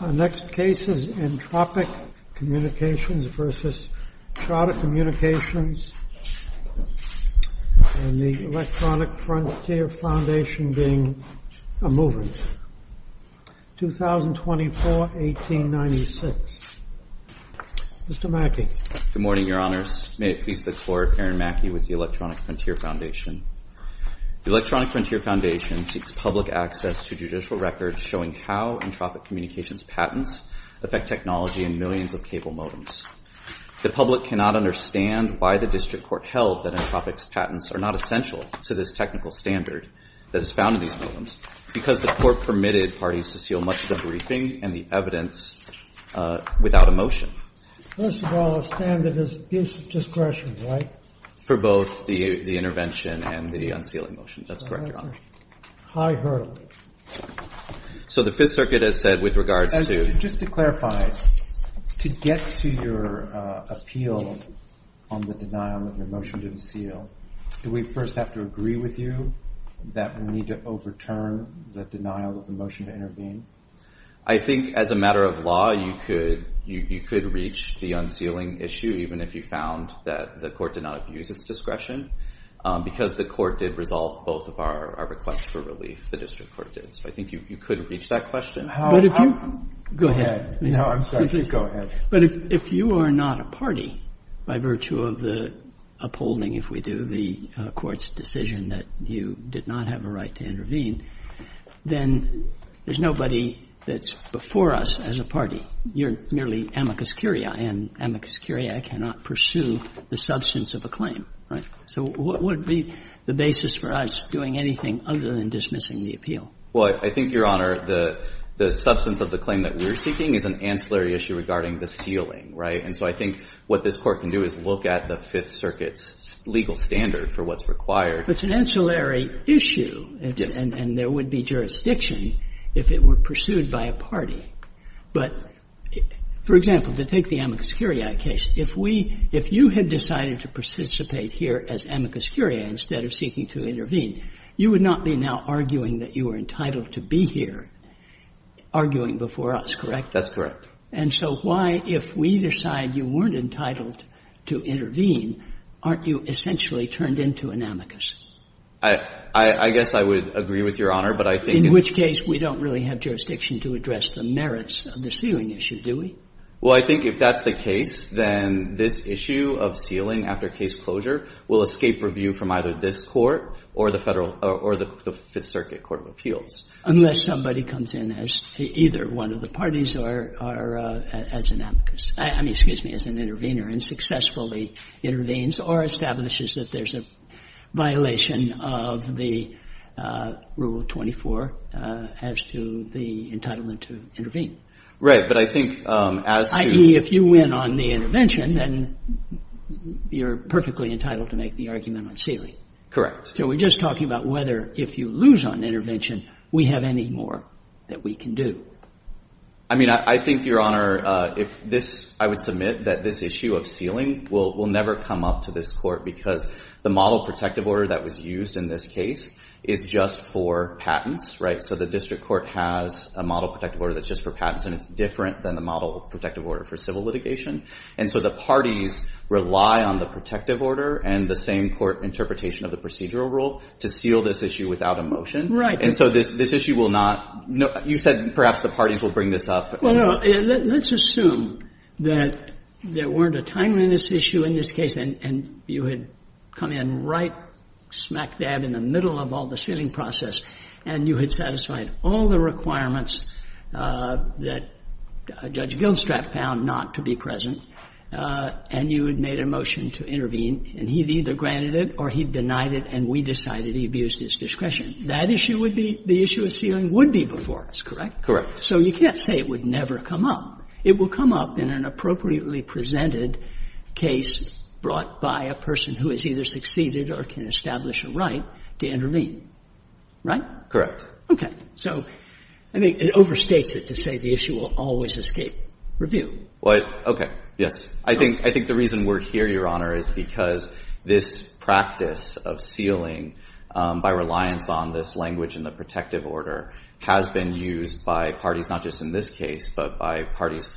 Our next case is Entropic Communications v. Charter Communications and the Electronic Frontier Foundation being a movement, 2024-1896. Mr. Mackey. Good morning, Your Honors. May it please the Court, Aaron Mackey with the Electronic Frontier Foundation. The Electronic Frontier Foundation seeks public access to judicial records showing how Entropic Communications' patents affect technology in millions of cable modems. The public cannot understand why the district court held that Entropic's patents are not essential to this technical standard that is found in these modems, because the court permitted parties to seal much of the briefing and the evidence without a motion. First of all, a standard is a piece of discretion, right? For both the intervention and the unsealing motion. That's correct, Your Honor. High hurdle. So the Fifth Circuit has said with regards to... Just to clarify, to get to your appeal on the denial of your motion to unseal, do we first have to agree with you that we need to overturn the denial of the motion to intervene? I think as a matter of law, you could reach the unsealing issue, even if you found that the court did not abuse its discretion, because the court did resolve both of our requests for relief, the district court did. So I think you could reach that question. But if you... Go ahead. No, I'm sorry. Please go ahead. But if you are not a party, by virtue of the upholding, if we do, the court's decision that you did not have a right to intervene, then there's nobody that's before us as a party. You're merely amicus curiae, and amicus curiae cannot pursue the substance of a claim, right? So what would be the basis for us doing anything other than dismissing the appeal? Well, I think, Your Honor, the substance of the claim that we're seeking is an ancillary issue regarding the sealing, right? And so I think what this Court can do is look at the Fifth Circuit's legal standard for what's required. But it's an ancillary issue, and there would be jurisdiction if it were pursued by a party. But, for example, to take the amicus curiae case, if we, if you had decided to participate here as amicus curiae instead of seeking to intervene, you would not be now arguing that you were entitled to be here arguing before us, correct? That's correct. And so why, if we decide you weren't entitled to intervene, aren't you essentially turned into an amicus? I guess I would agree with Your Honor, but I think in this case we don't really have jurisdiction to address the merits of the sealing issue, do we? Well, I think if that's the case, then this issue of sealing after case closure will escape review from either this Court or the Federal or the Fifth Circuit court of appeals. Unless somebody comes in as either one of the parties or as an amicus, I mean, excuse me, as an intervener and successfully intervenes or establishes that there's a violation of the Rule 24 as to the entitlement to intervene. Right. But I think as to — I.e., if you win on the intervention, then you're perfectly entitled to make the argument on sealing. Correct. So we're just talking about whether, if you lose on intervention, we have any more that we can do. I mean, I think, Your Honor, if this — I would submit that this issue of sealing will never come up to this Court because the model protective order that was used in this case is just for patents, right? So the district court has a model protective order that's just for patents, and it's different than the model protective order for civil litigation. And so the parties rely on the protective order and the same court interpretation of the procedural rule to seal this issue without a motion. Right. And so this issue will not — you said perhaps the parties will bring this up. Well, no. Let's assume that there weren't a time on this issue in this case, and you had come in right smack dab in the middle of all the sealing process, and you had satisfied all the requirements that Judge Gilstrap found not to be present, and you had made a motion to intervene, and he'd either granted it or he denied it, and we decided he abused his discretion. That issue would be — the issue of sealing would be before us, correct? So you can't say it would never come up. It will come up in an appropriately presented case brought by a person who has either succeeded or can establish a right to intervene, right? Correct. Okay. So I think it overstates it to say the issue will always escape review. Well, okay. Yes. I think the reason we're here, Your Honor, is because this practice of sealing by reliance on this language in the protective order has been used by parties not just in this case, but by parties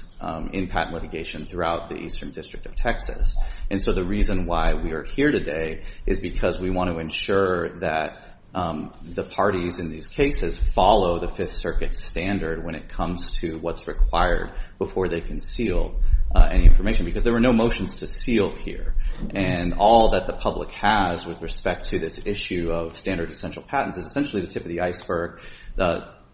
in patent litigation throughout the Eastern District of Texas. And so the reason why we are here today is because we want to ensure that the parties in these cases follow the Fifth Circuit standard when it comes to what's required before they can seal any information, because there were no motions to seal here. And all that the public has with respect to this issue of standard essential patents is essentially the tip of the iceberg,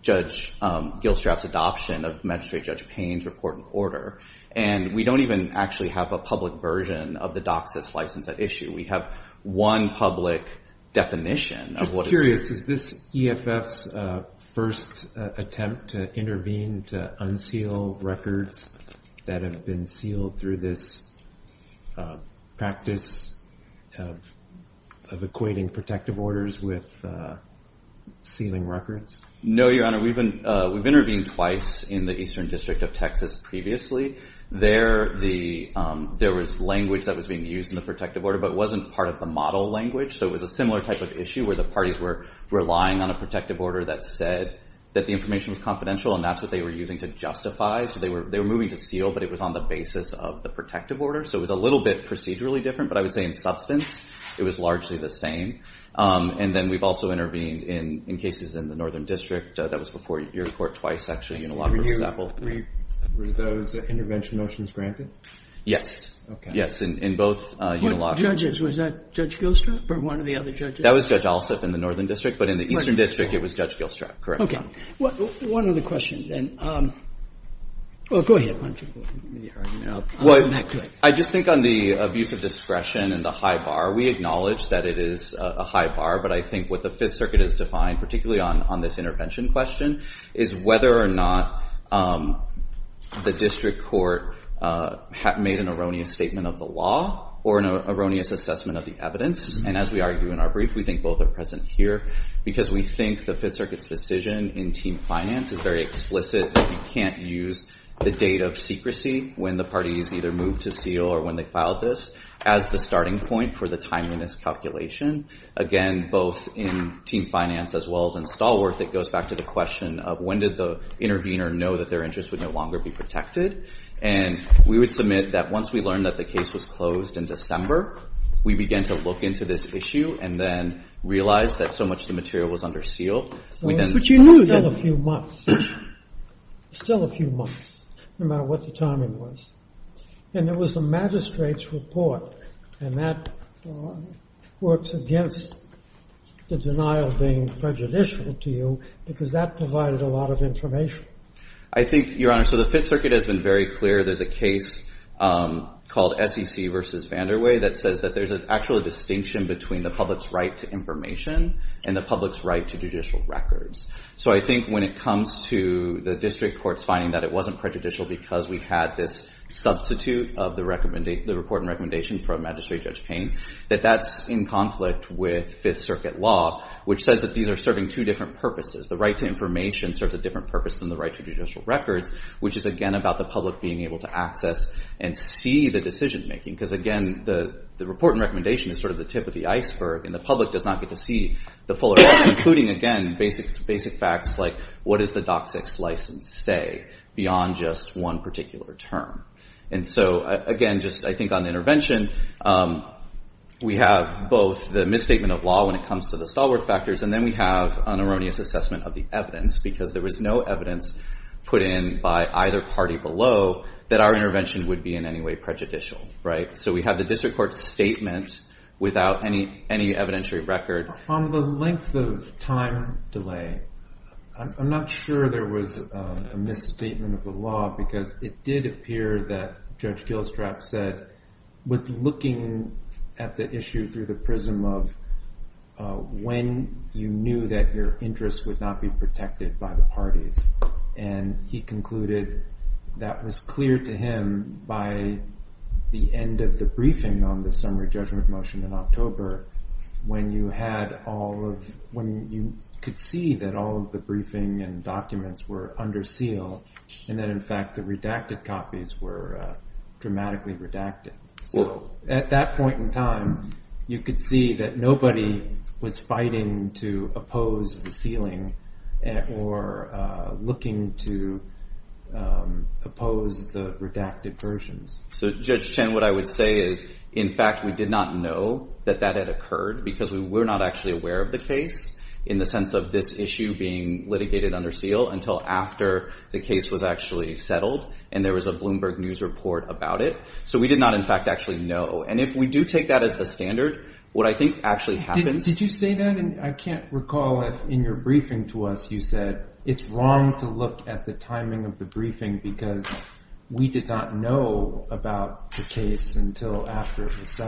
Judge Gilstrap's adoption of Magistrate Judge Payne's report and order. And we don't even actually have a public version of the docs that slice that issue. We have one public definition of what is — I'm just curious. Is this EFF's first attempt to intervene to unseal records that have been sealed through this practice of equating protective orders with sealing records? No, Your Honor. We've intervened twice in the Eastern District of Texas previously. There, there was language that was being used in the protective order, but it wasn't part of the model language. So it was a similar type of issue where the parties were relying on a protective order that said that the information was confidential, and that's what they were using to justify. So they were moving to seal, but it was on the basis of the protective order. So it was a little bit procedurally different, but I would say in substance it was largely the same. And then we've also intervened in cases in the Northern District. That was before your court twice, actually, in Unilaw versus Apple. Were those intervention motions granted? Yes. Yes. In both Unilaw — Judges. Was that Judge Gilstrap or one of the other judges? That was Judge Alsup in the Northern District, but in the Eastern District, it was Judge Gilstrap. Correct, Your Honor. Okay. One other question, then. Well, go ahead. I just think on the abuse of discretion and the high bar, we acknowledge that it is a high bar, but I think what the Fifth Circuit has defined, particularly on this intervention question, is whether or not the district court made an erroneous statement of the law or an erroneous assessment of the evidence. And as we argue in our brief, we think both are present here, because we think the team finance is very explicit that you can't use the date of secrecy when the party has either moved to seal or when they filed this as the starting point for the timeliness calculation. Again, both in team finance as well as in stalwart, it goes back to the question of when did the intervener know that their interest would no longer be protected. And we would submit that once we learned that the case was closed in December, we began to look into this issue and then realized that so much of the material was under seal. So it's still a few months. Still a few months, no matter what the timing was. And there was a magistrate's report, and that works against the denial being prejudicial to you, because that provided a lot of information. I think, Your Honor, so the Fifth Circuit has been very clear. There's a case called SEC v. Vanderway that says that there's actually a distinction between the public's right to information and the public's right to judicial records. So I think when it comes to the district court's finding that it wasn't prejudicial because we had this substitute of the report and recommendation from Magistrate Judge Payne, that that's in conflict with Fifth Circuit law, which says that these are serving two different purposes. The right to information serves a different purpose than the right to judicial records, which is, again, about the public being able to access and see the decision-making. Because, again, the report and recommendation is sort of the tip of the iceberg, and the public does not get to see the fuller, including, again, basic facts like what does the DOCSIS license say beyond just one particular term. And so, again, just I think on intervention, we have both the misstatement of law when it comes to the Stallworth factors, and then we have an erroneous assessment of the evidence, because there was no evidence put in by either party below that our intervention would be in any way prejudicial, right? So we have the district court's statement without any evidentiary record. On the length of time delay, I'm not sure there was a misstatement of the law because it did appear that Judge Gilstrap said, was looking at the issue through the prism of when you knew that your interests would not be protected by the parties, and he concluded that was clear to him by the end of the briefing on the summary judgment motion in October when you had all of, when you could see that all of the briefing and documents were under seal, and that, in fact, the redacted copies were dramatically redacted. So at that point in time, you could see that nobody was fighting to oppose the redacted versions. So Judge Chen, what I would say is, in fact, we did not know that that had occurred because we were not actually aware of the case in the sense of this issue being litigated under seal until after the case was actually settled and there was a Bloomberg News report about it. So we did not, in fact, actually know. And if we do take that as the standard, what I think actually happens Did you say that? I can't recall if, in your briefing to us, you said it's wrong to look at the timing of the briefing because we did not know about the case until after it was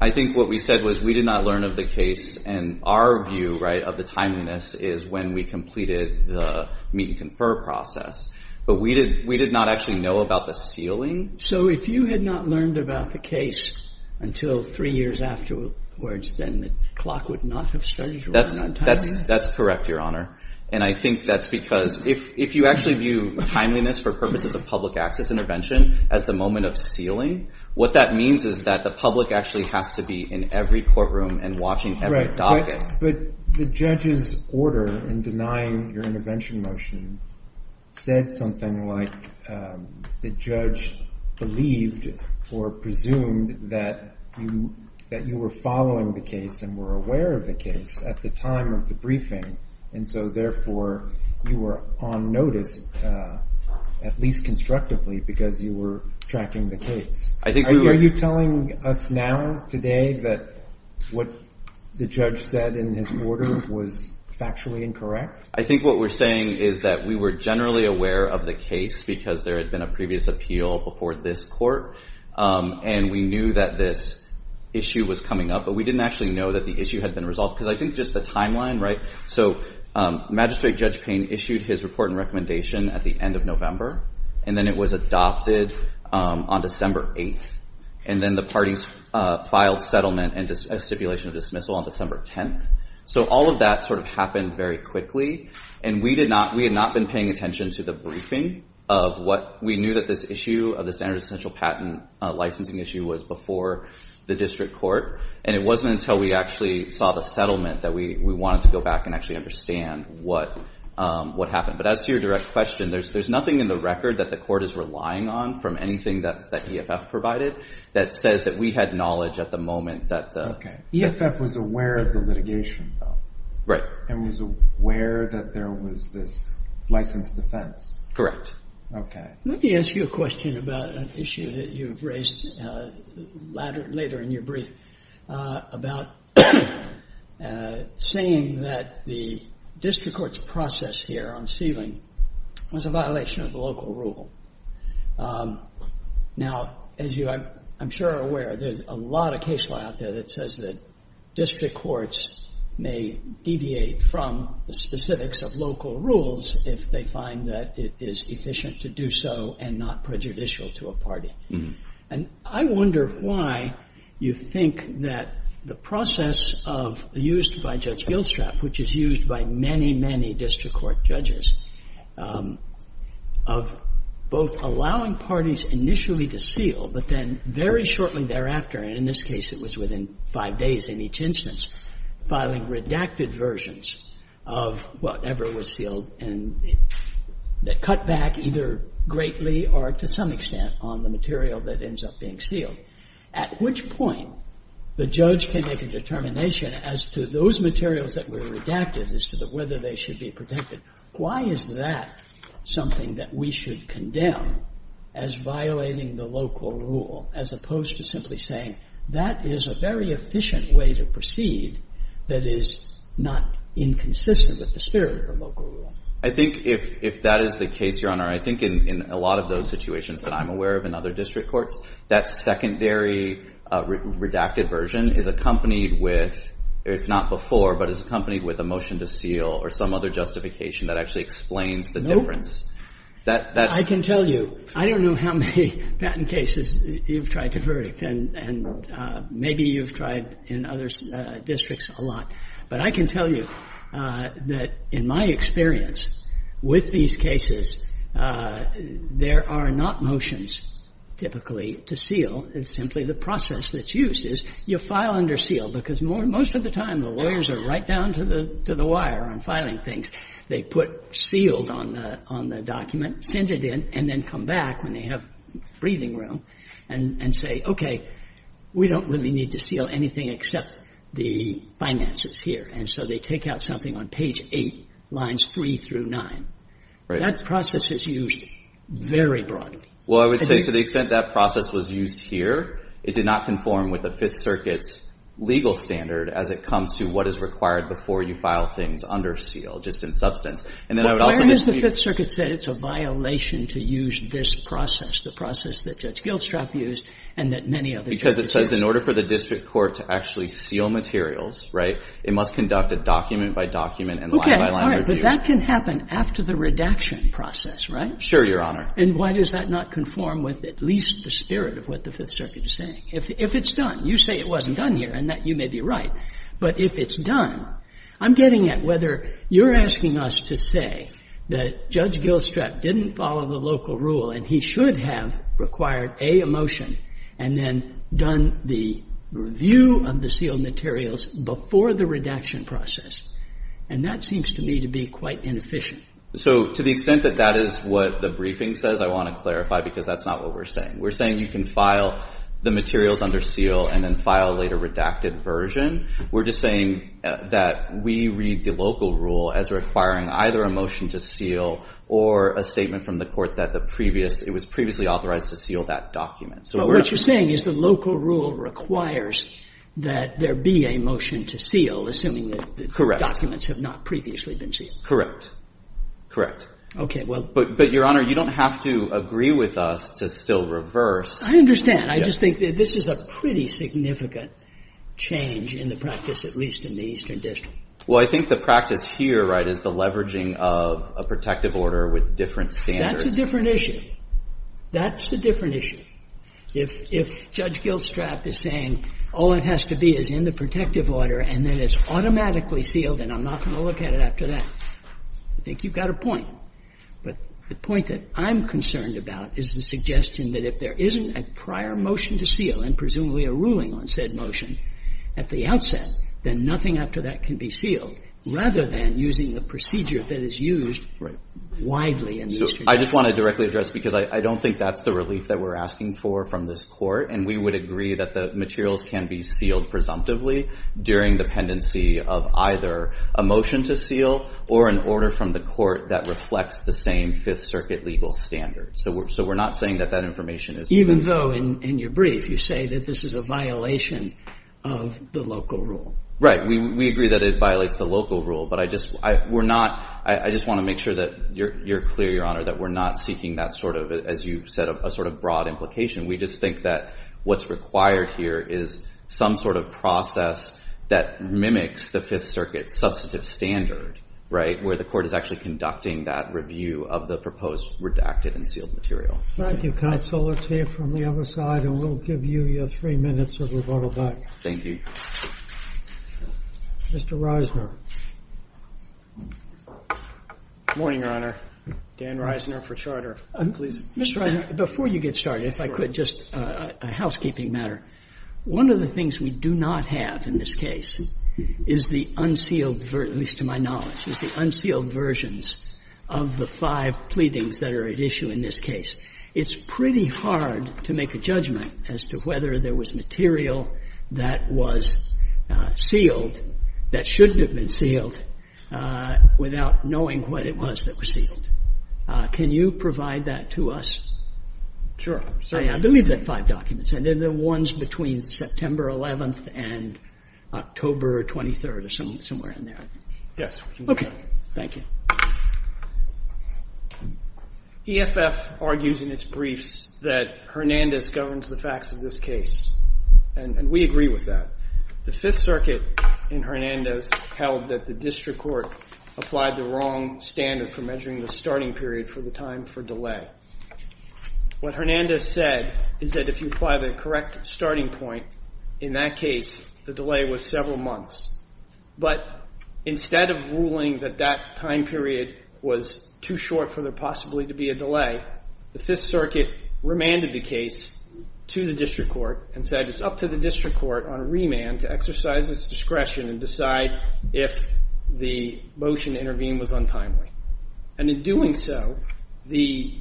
I think what we said was we did not learn of the case, and our view, right, of the timeliness is when we completed the meet and confer process. But we did not actually know about the sealing. So if you had not learned about the case until three years afterwards, then the clock would not have started to run on time. That's correct, Your Honor. And I think that's because if you actually view timeliness for purposes of public access intervention as the moment of sealing, what that means is that the public actually has to be in every courtroom and watching every docket. But the judge's order in denying your intervention motion said something like the judge believed or presumed that you were following the case and were aware of the case at the time of the briefing, and so therefore you were on notice, at least constructively, because you were tracking the case. I think we were Are you telling us now, today, that what the judge said in his order was factually incorrect? I think what we're saying is that we were generally aware of the case because there had been a previous appeal before this court, and we knew that this issue was coming up, but we didn't actually know that the issue had been resolved, because I think just the timeline, right? So Magistrate Judge Payne issued his report and recommendation at the end of November, and then it was adopted on December 8th. And then the parties filed settlement and a stipulation of dismissal on December 10th. So all of that sort of happened very quickly, and we had not been paying attention to the briefing of what we knew that this issue of the standard essential patent licensing issue was before the district court, and it wasn't until we actually saw the settlement that we wanted to go back and actually understand what happened. But as to your direct question, there's nothing in the record that the court is relying on from anything that EFF provided that says that we had knowledge at the moment that the EFF was aware of the litigation, though. Right. And was aware that there was this licensed defense. Correct. Okay. Let me ask you a question about an issue that you've raised later in your brief about saying that the district court's process here on sealing was a violation of the local rule. Now, as you, I'm sure, are aware, there's a lot of case law out there that says that district courts may deviate from the specifics of local rules if they find that it is efficient to do so and not prejudicial to a party. And I wonder why you think that the process of, used by Judge Gilstrap, which is used by many, many district court judges, of both allowing parties initially to seal, but then very shortly thereafter, and in this case it was within five days in each instance, filing redacted versions of whatever was sealed and that cut back either greatly or to some extent on the material that ends up being sealed, at which point the judge can make a determination as to those materials that were redacted as to whether they should be protected. Why is that something that we should condemn as violating the local rule as opposed to simply saying that is a very efficient way to proceed that is not inconsistent with the spirit of local rule? I think if that is the case, Your Honor, I think in a lot of those situations that I'm aware of in other district courts, that secondary redacted version is accompanied with, if not before, but is accompanied with a motion to seal or some other justification that actually explains the difference. I can tell you. I don't know how many patent cases you've tried to verdict, and maybe you've tried in other districts a lot, but I can tell you that in my experience with these cases, there are not motions typically to seal. It's simply the process that's used is you file under seal, because most of the time the lawyers are right down to the wire on filing things. They put sealed on the document, send it in, and then come back when they have breathing room and say, okay, we don't really need to seal anything except the finances here. And so they take out something on page 8, lines 3 through 9. That process is used very broadly. Well, I would say to the extent that process was used here, it did not conform with the Fifth Circuit's legal standard as it comes to what is required before you file things under seal, just in substance. And then I would also disagree. But where has the Fifth Circuit said it's a violation to use this process, the process that Judge Gilstrap used and that many other judges used? Because it says in order for the district court to actually seal materials, right, it must conduct a document-by-document and line-by-line review. Okay. All right. But that can happen after the redaction process, right? Sure, Your Honor. And why does that not conform with at least the spirit of what the Fifth Circuit is saying? If it's done. You say it wasn't done here, and that you may be right. But if it's done, I'm getting at whether you're asking us to say that Judge Gilstrap didn't follow the local rule and he should have required, A, a motion, and then done the review of the sealed materials before the redaction process. And that seems to me to be quite inefficient. So to the extent that that is what the briefing says, I want to clarify, because that's not what we're saying. We're saying you can file the materials under seal and then file a later redacted version. We're just saying that we read the local rule as requiring either a motion to seal or a statement from the Court that the previous, it was previously authorized to seal that document. So what you're saying is the local rule requires that there be a motion to seal, assuming that the documents have not previously been sealed. Correct. Okay. Well. But, Your Honor, you don't have to agree with us to still reverse. I understand. I just think this is a pretty significant change in the practice, at least in the Eastern District. Well, I think the practice here, right, is the leveraging of a protective order with different standards. That's a different issue. That's a different issue. If Judge Gilstrap is saying all it has to be is in the protective order and then it's automatically sealed and I'm not going to look at it after that, I think you've got a point. But the point that I'm concerned about is the suggestion that if there isn't a prior motion to seal and presumably a ruling on said motion at the outset, then nothing after that can be sealed, rather than using a procedure that is used widely in the Eastern District. I just want to directly address, because I don't think that's the relief that we're asking for from this Court. And we would agree that the materials can be sealed presumptively during the pendency of either a motion to seal or an order from the Court that reflects the same Fifth Circuit legal standards. So we're not saying that that information is different. Even though, in your brief, you say that this is a violation of the local rule. We agree that it violates the local rule. But I just want to make sure that you're clear, Your Honor, that we're not seeking that sort of, as you said, a sort of broad implication. We just think that what's required here is some sort of process that mimics the Fifth Circuit substantive standard, right, where the Court is actually conducting that review of the proposed redacted and sealed material. Thank you, counsel. Let's hear from the other side, and we'll give you your three minutes of rebuttal back. Thank you. Mr. Reisner. Good morning, Your Honor. Dan Reisner for Charter. Mr. Reisner, before you get started, if I could, just a housekeeping matter. One of the things we do not have in this case is the unsealed, at least to my knowledge, is the unsealed versions of the five pleadings that are at issue in this case. It's pretty hard to make a judgment as to whether there was material that was sealed that shouldn't have been sealed without knowing what it was that was sealed. Can you provide that to us? Sure. I believe that five documents, and they're the ones between September 11th and October 23rd or somewhere in there. Yes. Thank you. EFF argues in its briefs that Hernandez governs the facts of this case, and we agree with that. The Fifth Circuit in Hernandez held that the district court applied the wrong standard for measuring the starting period for the time for delay. What Hernandez said is that if you apply the correct starting point in that case, the delay was several months. But instead of ruling that that time period was too short for there possibly to be a delay, the Fifth Circuit remanded the case to the district court and said it's up to the district court on remand to exercise its discretion and decide if the motion to intervene was untimely. And in doing so, the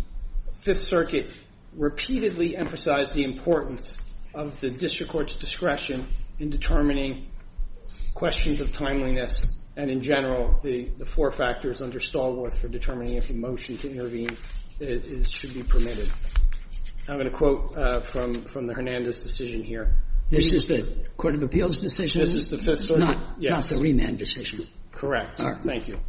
Fifth Circuit repeatedly emphasized the importance of the district court's discretion in determining questions of timeliness and, in general, the four factors under Stallworth for determining if a motion to intervene should be permitted. I'm going to quote from the Hernandez decision here. This is the Court of Appeals decision, not the remand decision? Correct. All right. Thank you.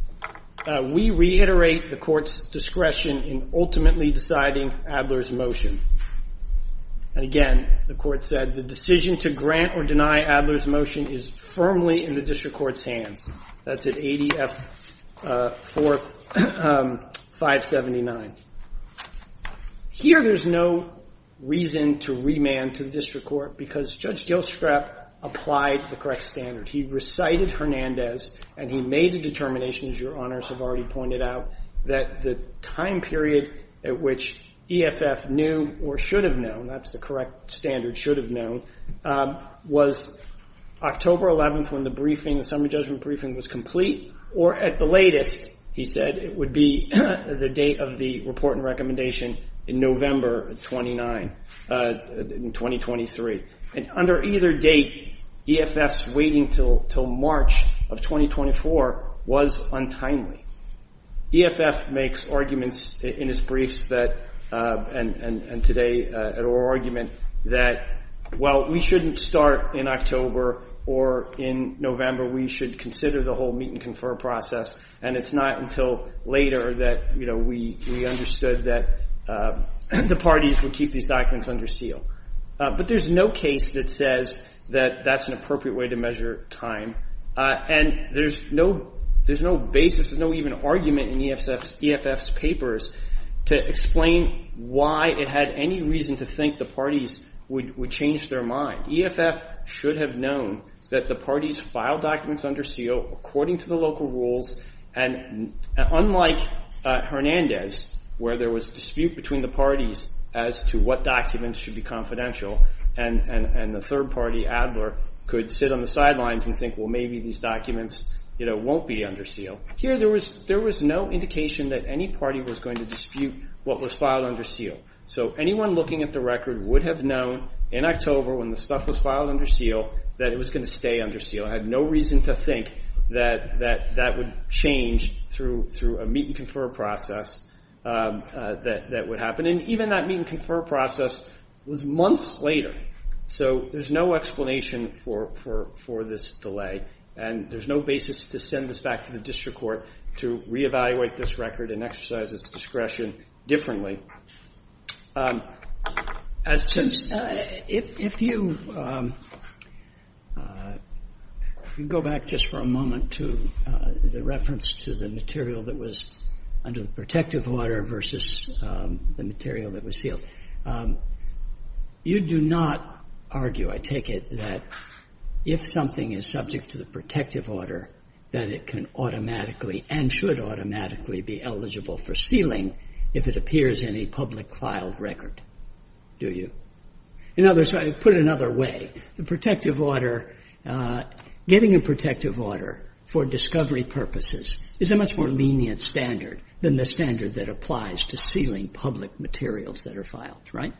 We reiterate the court's discretion in ultimately deciding Adler's motion. And again, the court said the decision to grant or deny Adler's motion is firmly in the district court's hands. That's at ADF 4579. Here there's no reason to remand to the district court because Judge Gilstrap applied the correct standard. He recited Hernandez and he made a determination, as your honors have already pointed out, that the time period at which EFF knew or should have known, that's the correct standard, should have known, was October 11th when the briefing, the summary judgment briefing, was complete or at the latest, he said, it would be the date of the report and recommendation in November 29th, 2023. And under either date, EFF's waiting until March of 2024 was untimely. EFF makes arguments in its briefs that, and today at our argument, that, well, we shouldn't start in October or in November. We should consider the whole meet and confer process. And it's not until later that, you know, we understood that the parties would keep these documents under seal. But there's no case that says that that's an appropriate way to measure time. And there's no basis, there's no even argument in EFF's papers to explain why it had any reason to think the parties would change their mind. EFF should have known that the parties filed documents under seal according to the local rules. And unlike Hernandez, where there was dispute between the parties as to what documents should be confidential. And the third party, Adler, could sit on the sidelines and think, well, maybe these documents, you know, won't be under seal. Here there was no indication that any party was going to dispute what was filed under seal. So anyone looking at the record would have known in October when the stuff was filed under seal that it was going to stay under seal. It had no reason to think that that would change through a meet and confer process that would happen. And even that meet and confer process was months later. So there's no explanation for this delay. And there's no basis to send this back to the district court to re-evaluate this record and exercise its discretion differently. If you go back just for a moment to the reference to the material that was under the protective order versus the material that was sealed, you do not argue, I take it, that if something is subject to the protective order, that it can automatically and should automatically be eligible for sealing if it appears in a public filed record, do you? In other words, put it another way, the protective order, getting a protective order for discovery purposes is a more lenient standard than the standard that applies to sealing public materials that are filed, right?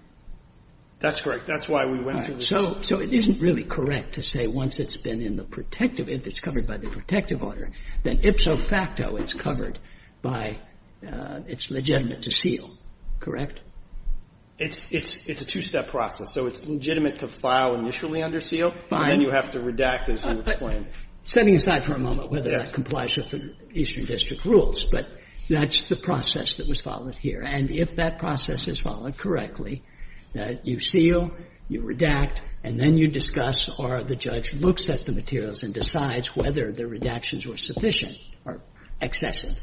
That's correct. That's why we went through this. So it isn't really correct to say once it's been in the protective, if it's covered by the protective order, then ipso facto it's covered by, it's legitimate to seal, correct? It's a two-step process. So it's legitimate to file initially under seal. Fine. And then you have to redact as you would plan. Setting aside for a moment whether that complies with the Eastern District rules, but that's the process that was followed here. And if that process is followed correctly, you seal, you redact, and then you discuss or the judge looks at the materials and decides whether the redactions were sufficient or excessive,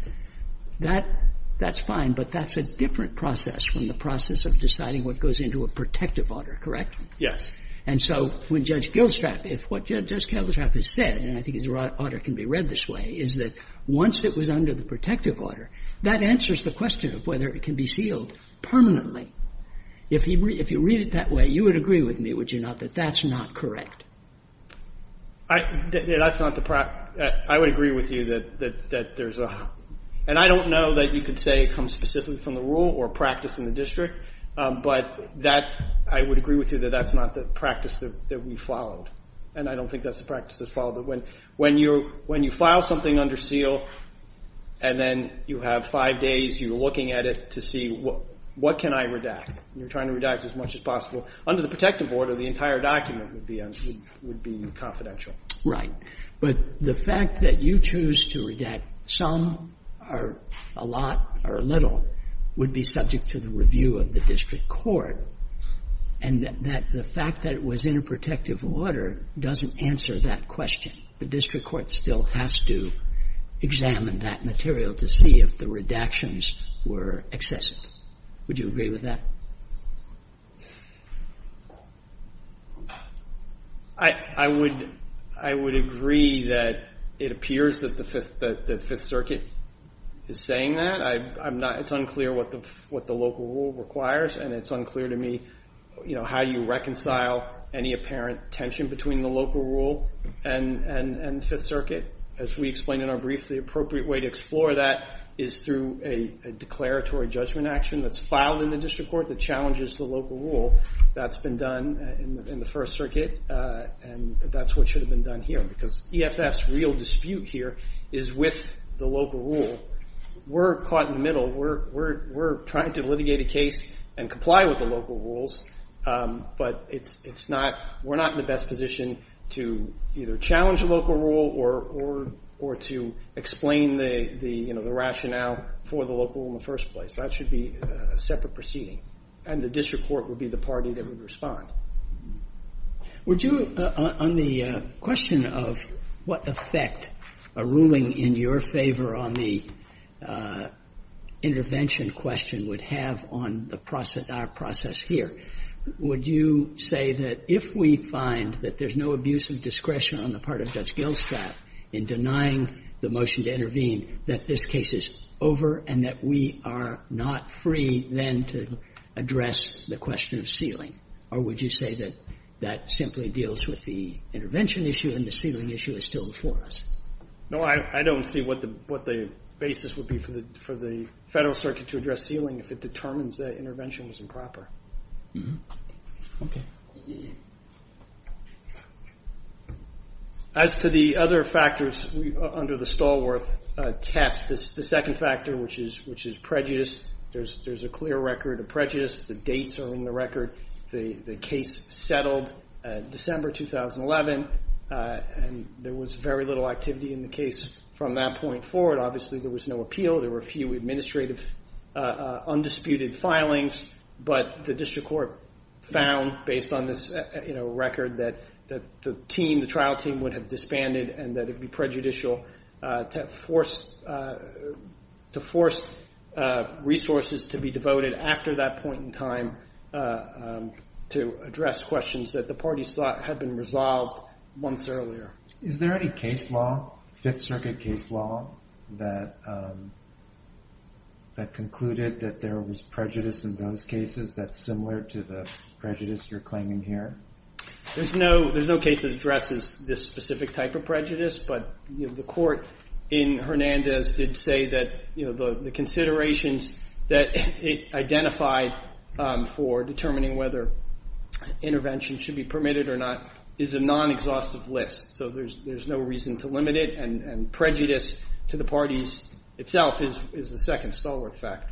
that's fine. But that's a different process from the process of deciding what goes into a protective order, correct? Yes. And so when Judge Gilstrap, if what Judge Gilstrap has said, and I think his order can be read this way, is that once it was under the protective order, that answers the question of whether it can be sealed permanently. If you read it that way, you would agree with me, would you not, that that's not correct? That's not the practice. I would agree with you that there's a – and I don't know that you could say it comes specifically from the rule or practice in the district. But that – I would agree with you that that's not the practice that we followed. And I don't think that's the practice that's followed. When you file something under seal and then you have five days, you're looking at it to see what can I redact. You're trying to redact as much as possible. Under the protective order, the entire document would be confidential. But the fact that you choose to redact some or a lot or a little would be subject to the review of the district court. And that the fact that it was in a protective order doesn't answer that question. The district court still has to examine that material to see if the redactions were excessive. Would you agree with that? I would – I would agree that it appears that the Fifth – that the Fifth Circuit is saying that. I'm not – it's unclear what the local rule requires. And it's unclear to me, you know, how you reconcile any apparent tension between the local rule and the Fifth Circuit. As we explained in our brief, the appropriate way to explore that is through a declaratory judgment action that's filed in the district court that challenges the local rule. That's been done in the First Circuit. And that's what should have been done here. Because EFF's real dispute here is with the local rule. We're caught in the middle. We're trying to litigate a case and comply with the local rules. But it's not – we're not in the best position to either challenge a local rule or to explain the, you know, the rationale for the local rule in the first place. That should be a separate proceeding. And the district court would be the party that would respond. Would you, on the question of what effect a ruling in your favor on the intervention question would have on the process – our process here, would you say that if we find that there's no abuse of discretion on the part of Judge Gilstraff in denying the motion to intervene, that this case is over and that we are not free then to address the question of sealing? Or would you say that that simply deals with the intervention issue and the sealing issue is still before us? No, I don't see what the basis would be for the Federal Circuit to address sealing if it determines that intervention was improper. Okay. As to the other factors under the Stallworth test, the second factor, which is prejudice, there's a clear record of prejudice. The dates are in the record. The case settled December 2011, and there was very little activity in the case from that point forward. Obviously, there was no appeal. There were a few administrative undisputed filings, but the district court found, based on this record, that the team, the trial team, would have disbanded and that it would be prejudicial to force resources to be devoted after that point in time to address questions that the parties thought had been resolved months earlier. Is there any case law, Fifth Circuit case law, that concluded that there was prejudice in those cases that's similar to the prejudice you're claiming here? There's no case that addresses this specific type of prejudice, but the court in Hernandez did say that the considerations that it identified for determining whether intervention should be permitted or not is a non-exhaustive list, so there's no reason to limit it, and prejudice to the parties itself is the second Stallworth factor.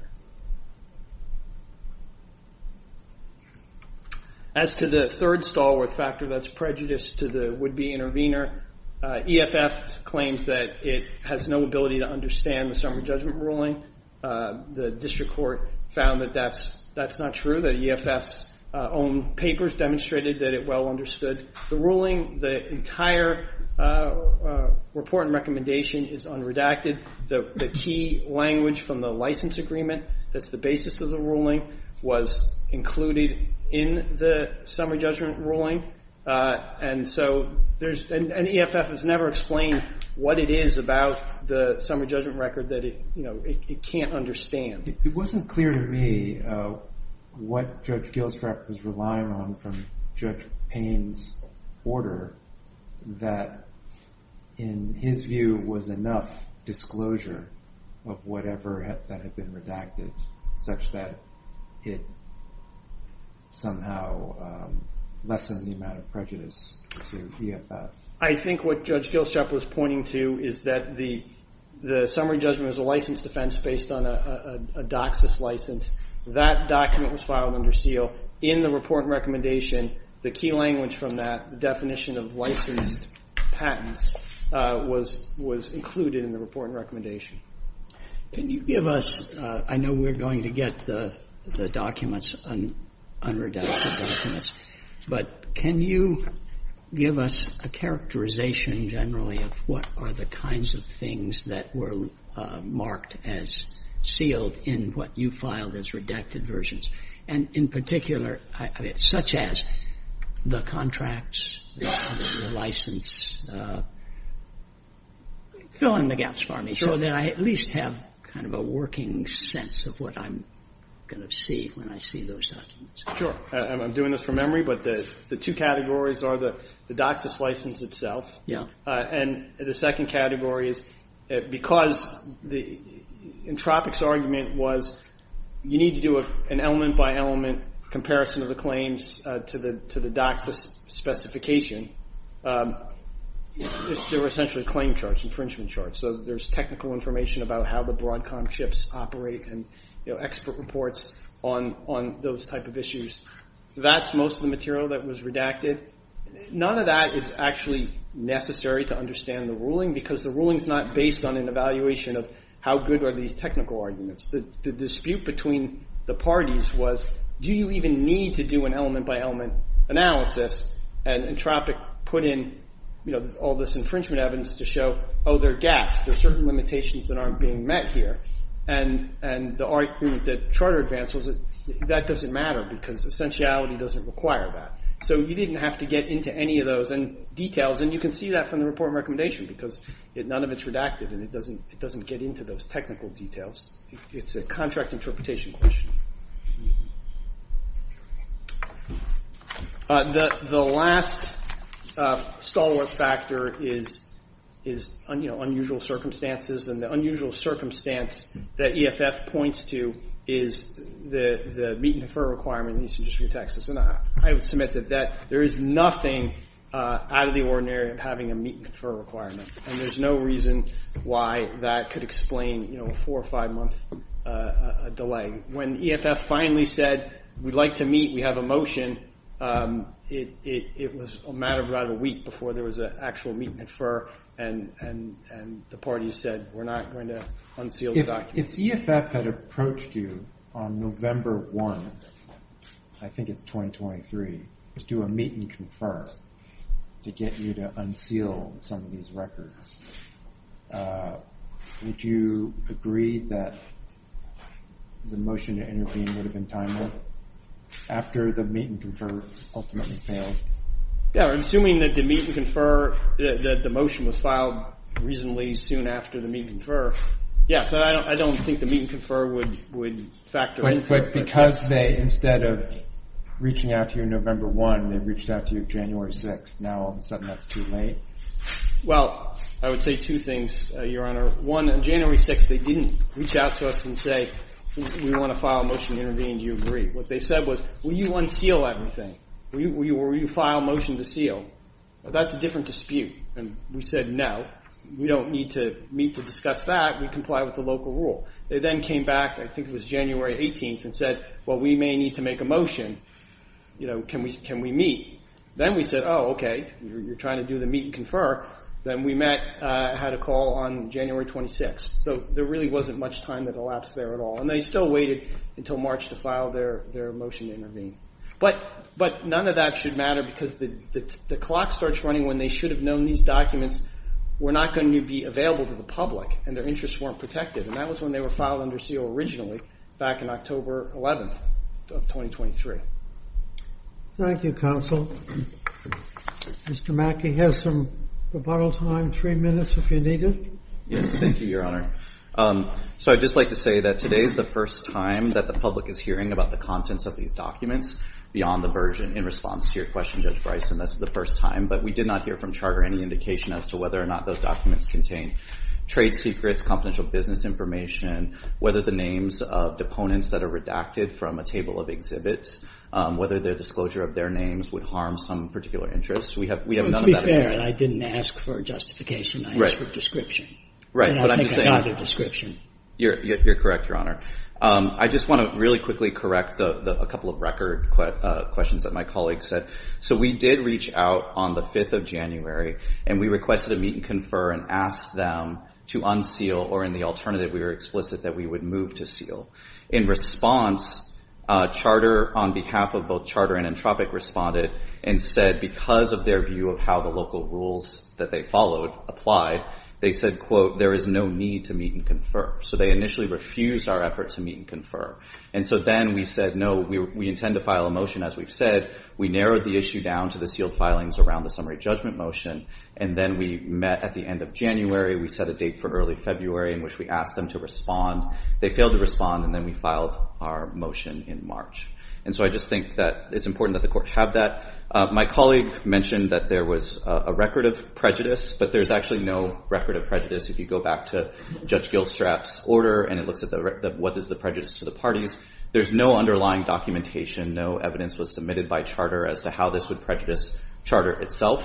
As to the third Stallworth factor that's prejudice to the would-be intervener, EFF claims that it has no ability to understand the summary judgment ruling. The district court found that that's not true. The EFF's own papers demonstrated that it well understood the ruling. The entire report and recommendation is unredacted. The key language from the license agreement that's the basis of the ruling was included in the summary judgment ruling, and EFF has never explained what it is about the summary judgment record that it can't understand. It wasn't clear to me what Judge Gilstrap was relying on from Judge Payne's order that in his view was enough disclosure of whatever had been redacted such that it somehow lessened the amount of prejudice to EFF. I think what Judge Gilstrap was pointing to is that the summary judgment was a license defense based on a DOCSIS license. That document was filed under seal in the report and recommendation. The key language from that, the definition of licensed patents, was included in the report and recommendation. Can you give us, I know we're going to get the documents, unredacted documents, but can you give us a characterization generally of what are the kinds of things that were marked as sealed in what you filed as redacted versions? And in particular, such as the contracts, the license, fill in the gaps for me so that I at least have kind of a working sense of what I'm going to see when I see those documents. Sure. I'm doing this from memory, but the two categories are the DOCSIS license itself. Yeah. And the second category is because Entropic's argument was you need to do an element by element comparison of the claims to the DOCSIS specification. There were essentially claim charts, infringement charts, so there's technical information about how the Broadcom ships operate and expert reports on those type of issues. That's most of the material that was redacted. None of that is actually necessary to understand the ruling because the ruling is not based on an evaluation of how good are these technical arguments. The dispute between the parties was do you even need to do an element by element analysis and Entropic put in all this infringement evidence to show, oh, there are gaps, there are certain limitations that aren't being met here, and the argument that Charter Advance was that that doesn't matter because essentiality doesn't require that. So you didn't have to get into any of those details, and you can see that from the report and recommendation because none of it's redacted and it doesn't get into those technical details. It's a contract interpretation question. The last stalwart factor is unusual circumstances, and the unusual circumstance that EFF points to is the meet and defer requirement in Eastern District of Texas. And I would submit that there is nothing out of the ordinary of having a meet and defer requirement, and there's no reason why that could explain a four- or five-month delay. When EFF finally said we'd like to meet, we have a motion, it was a matter of about a week before there was an actual meet and defer, and the parties said we're not going to unseal the documents. If EFF had approached you on November 1, I think it's 2023, to do a meet and confer to get you to unseal some of these records, would you agree that the motion to intervene would have been timely after the meet and confer ultimately failed? Yeah, assuming that the meet and confer, that the motion was filed reasonably soon after the meet and confer, yes, I don't think the meet and confer would factor into it. But because they, instead of reaching out to you November 1, they reached out to you January 6, now all of a sudden that's too late? Well, I would say two things, Your Honor. One, on January 6, they didn't reach out to us and say we want to file a motion to intervene. Do you agree? What they said was will you unseal everything? Will you file a motion to seal? That's a different dispute, and we said no. We don't need to meet to discuss that. We comply with the local rule. They then came back, I think it was January 18, and said, well, we may need to make a motion. Can we meet? Then we said, oh, okay. You're trying to do the meet and confer. Then we met, had a call on January 26. So there really wasn't much time that elapsed there at all, and they still waited until March to file their motion to intervene. But none of that should matter because the clock starts running when they should have known these documents were not going to be available to the public and their interests weren't protected, and that was when they were filed under seal originally back on October 11 of 2023. Thank you, Counsel. Mr. Mackey has some rebuttal time, three minutes if you need it. Yes, thank you, Your Honor. So I'd just like to say that today is the first time that the public is hearing about the contents of these documents beyond the version in response to your question, Judge Bryson. That's the first time. But we did not hear from Charter any indication as to whether or not those documents contain trade secrets, confidential business information, whether the names of deponents that are redacted from a table of exhibits, whether the disclosure of their names would harm some particular interest. We have none of that. To be fair, I didn't ask for a justification. I asked for a description. Right. And I think I got a description. You're correct, Your Honor. I just want to really quickly correct a couple of record questions that my colleague said. So we did reach out on the 5th of January, and we requested a meet and confer and asked them to unseal or in the alternative we were explicit that we would move to seal. In response, Charter on behalf of both Charter and Entropic responded and said because of their view of how the local rules that they followed applied, they said, quote, there is no need to meet and confer. So they initially refused our effort to meet and confer. And so then we said, no, we intend to file a motion, as we've said. We narrowed the issue down to the sealed filings around the summary judgment motion, and then we met at the end of January. We set a date for early February in which we asked them to respond. They failed to respond, and then we filed our motion in March. And so I just think that it's important that the Court have that. My colleague mentioned that there was a record of prejudice, but there's actually no record of prejudice. If you go back to Judge Gilstrap's order and it looks at what is the prejudice to the parties, there's no underlying documentation, no evidence was submitted by Charter as to how this would prejudice Charter itself.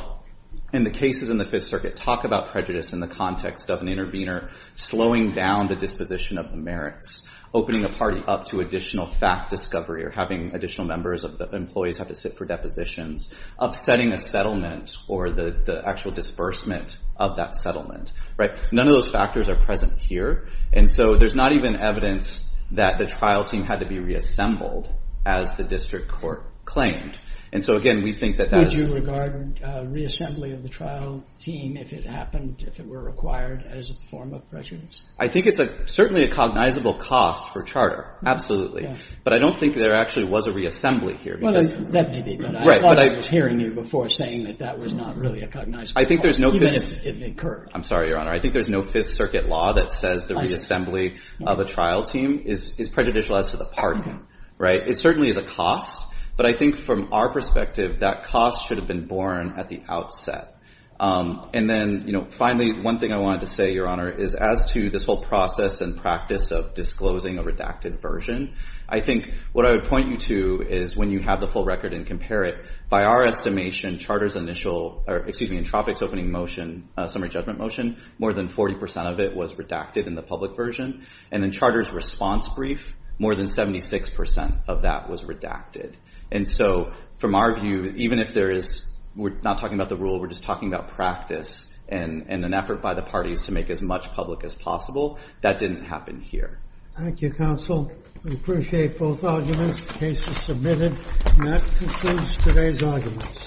And the cases in the Fifth Circuit talk about prejudice in the context of an intervener slowing down the disposition of the merits, opening a party up to additional fact discovery or having additional members of the employees have to sit for depositions, upsetting a settlement or the actual disbursement of that settlement. None of those factors are present here, and so there's not even evidence that the trial team had to be reassembled, as the District Court claimed. And so, again, we think that that is... Would you regard reassembly of the trial team if it happened, if it were required as a form of prejudice? I think it's certainly a cognizable cost for Charter, absolutely. But I don't think there actually was a reassembly here. Well, there may be, but I thought I was hearing you before saying that that was not really a cognizable cost, even if it occurred. I'm sorry, Your Honor. I think there's no Fifth Circuit law that says the reassembly of a trial team is prejudicial as to the party, right? It certainly is a cost, but I think from our perspective, that cost should have been borne at the outset. And then, you know, finally, one thing I wanted to say, Your Honor, is as to this whole process and practice of disclosing a redacted version, I think what I would point you to is when you have the full record and compare it, by our estimation, Charter's initial... Excuse me, Entropich's opening motion, summary judgment motion, more than 40% of it was redacted in the public version. And in Charter's response brief, more than 76% of that was redacted. And so, from our view, even if there is... We're not talking about the rule, we're just talking about practice and an effort by the parties to make as much public as possible. That didn't happen here. Thank you, Counsel. We appreciate both arguments. The case is submitted, and that concludes today's arguments.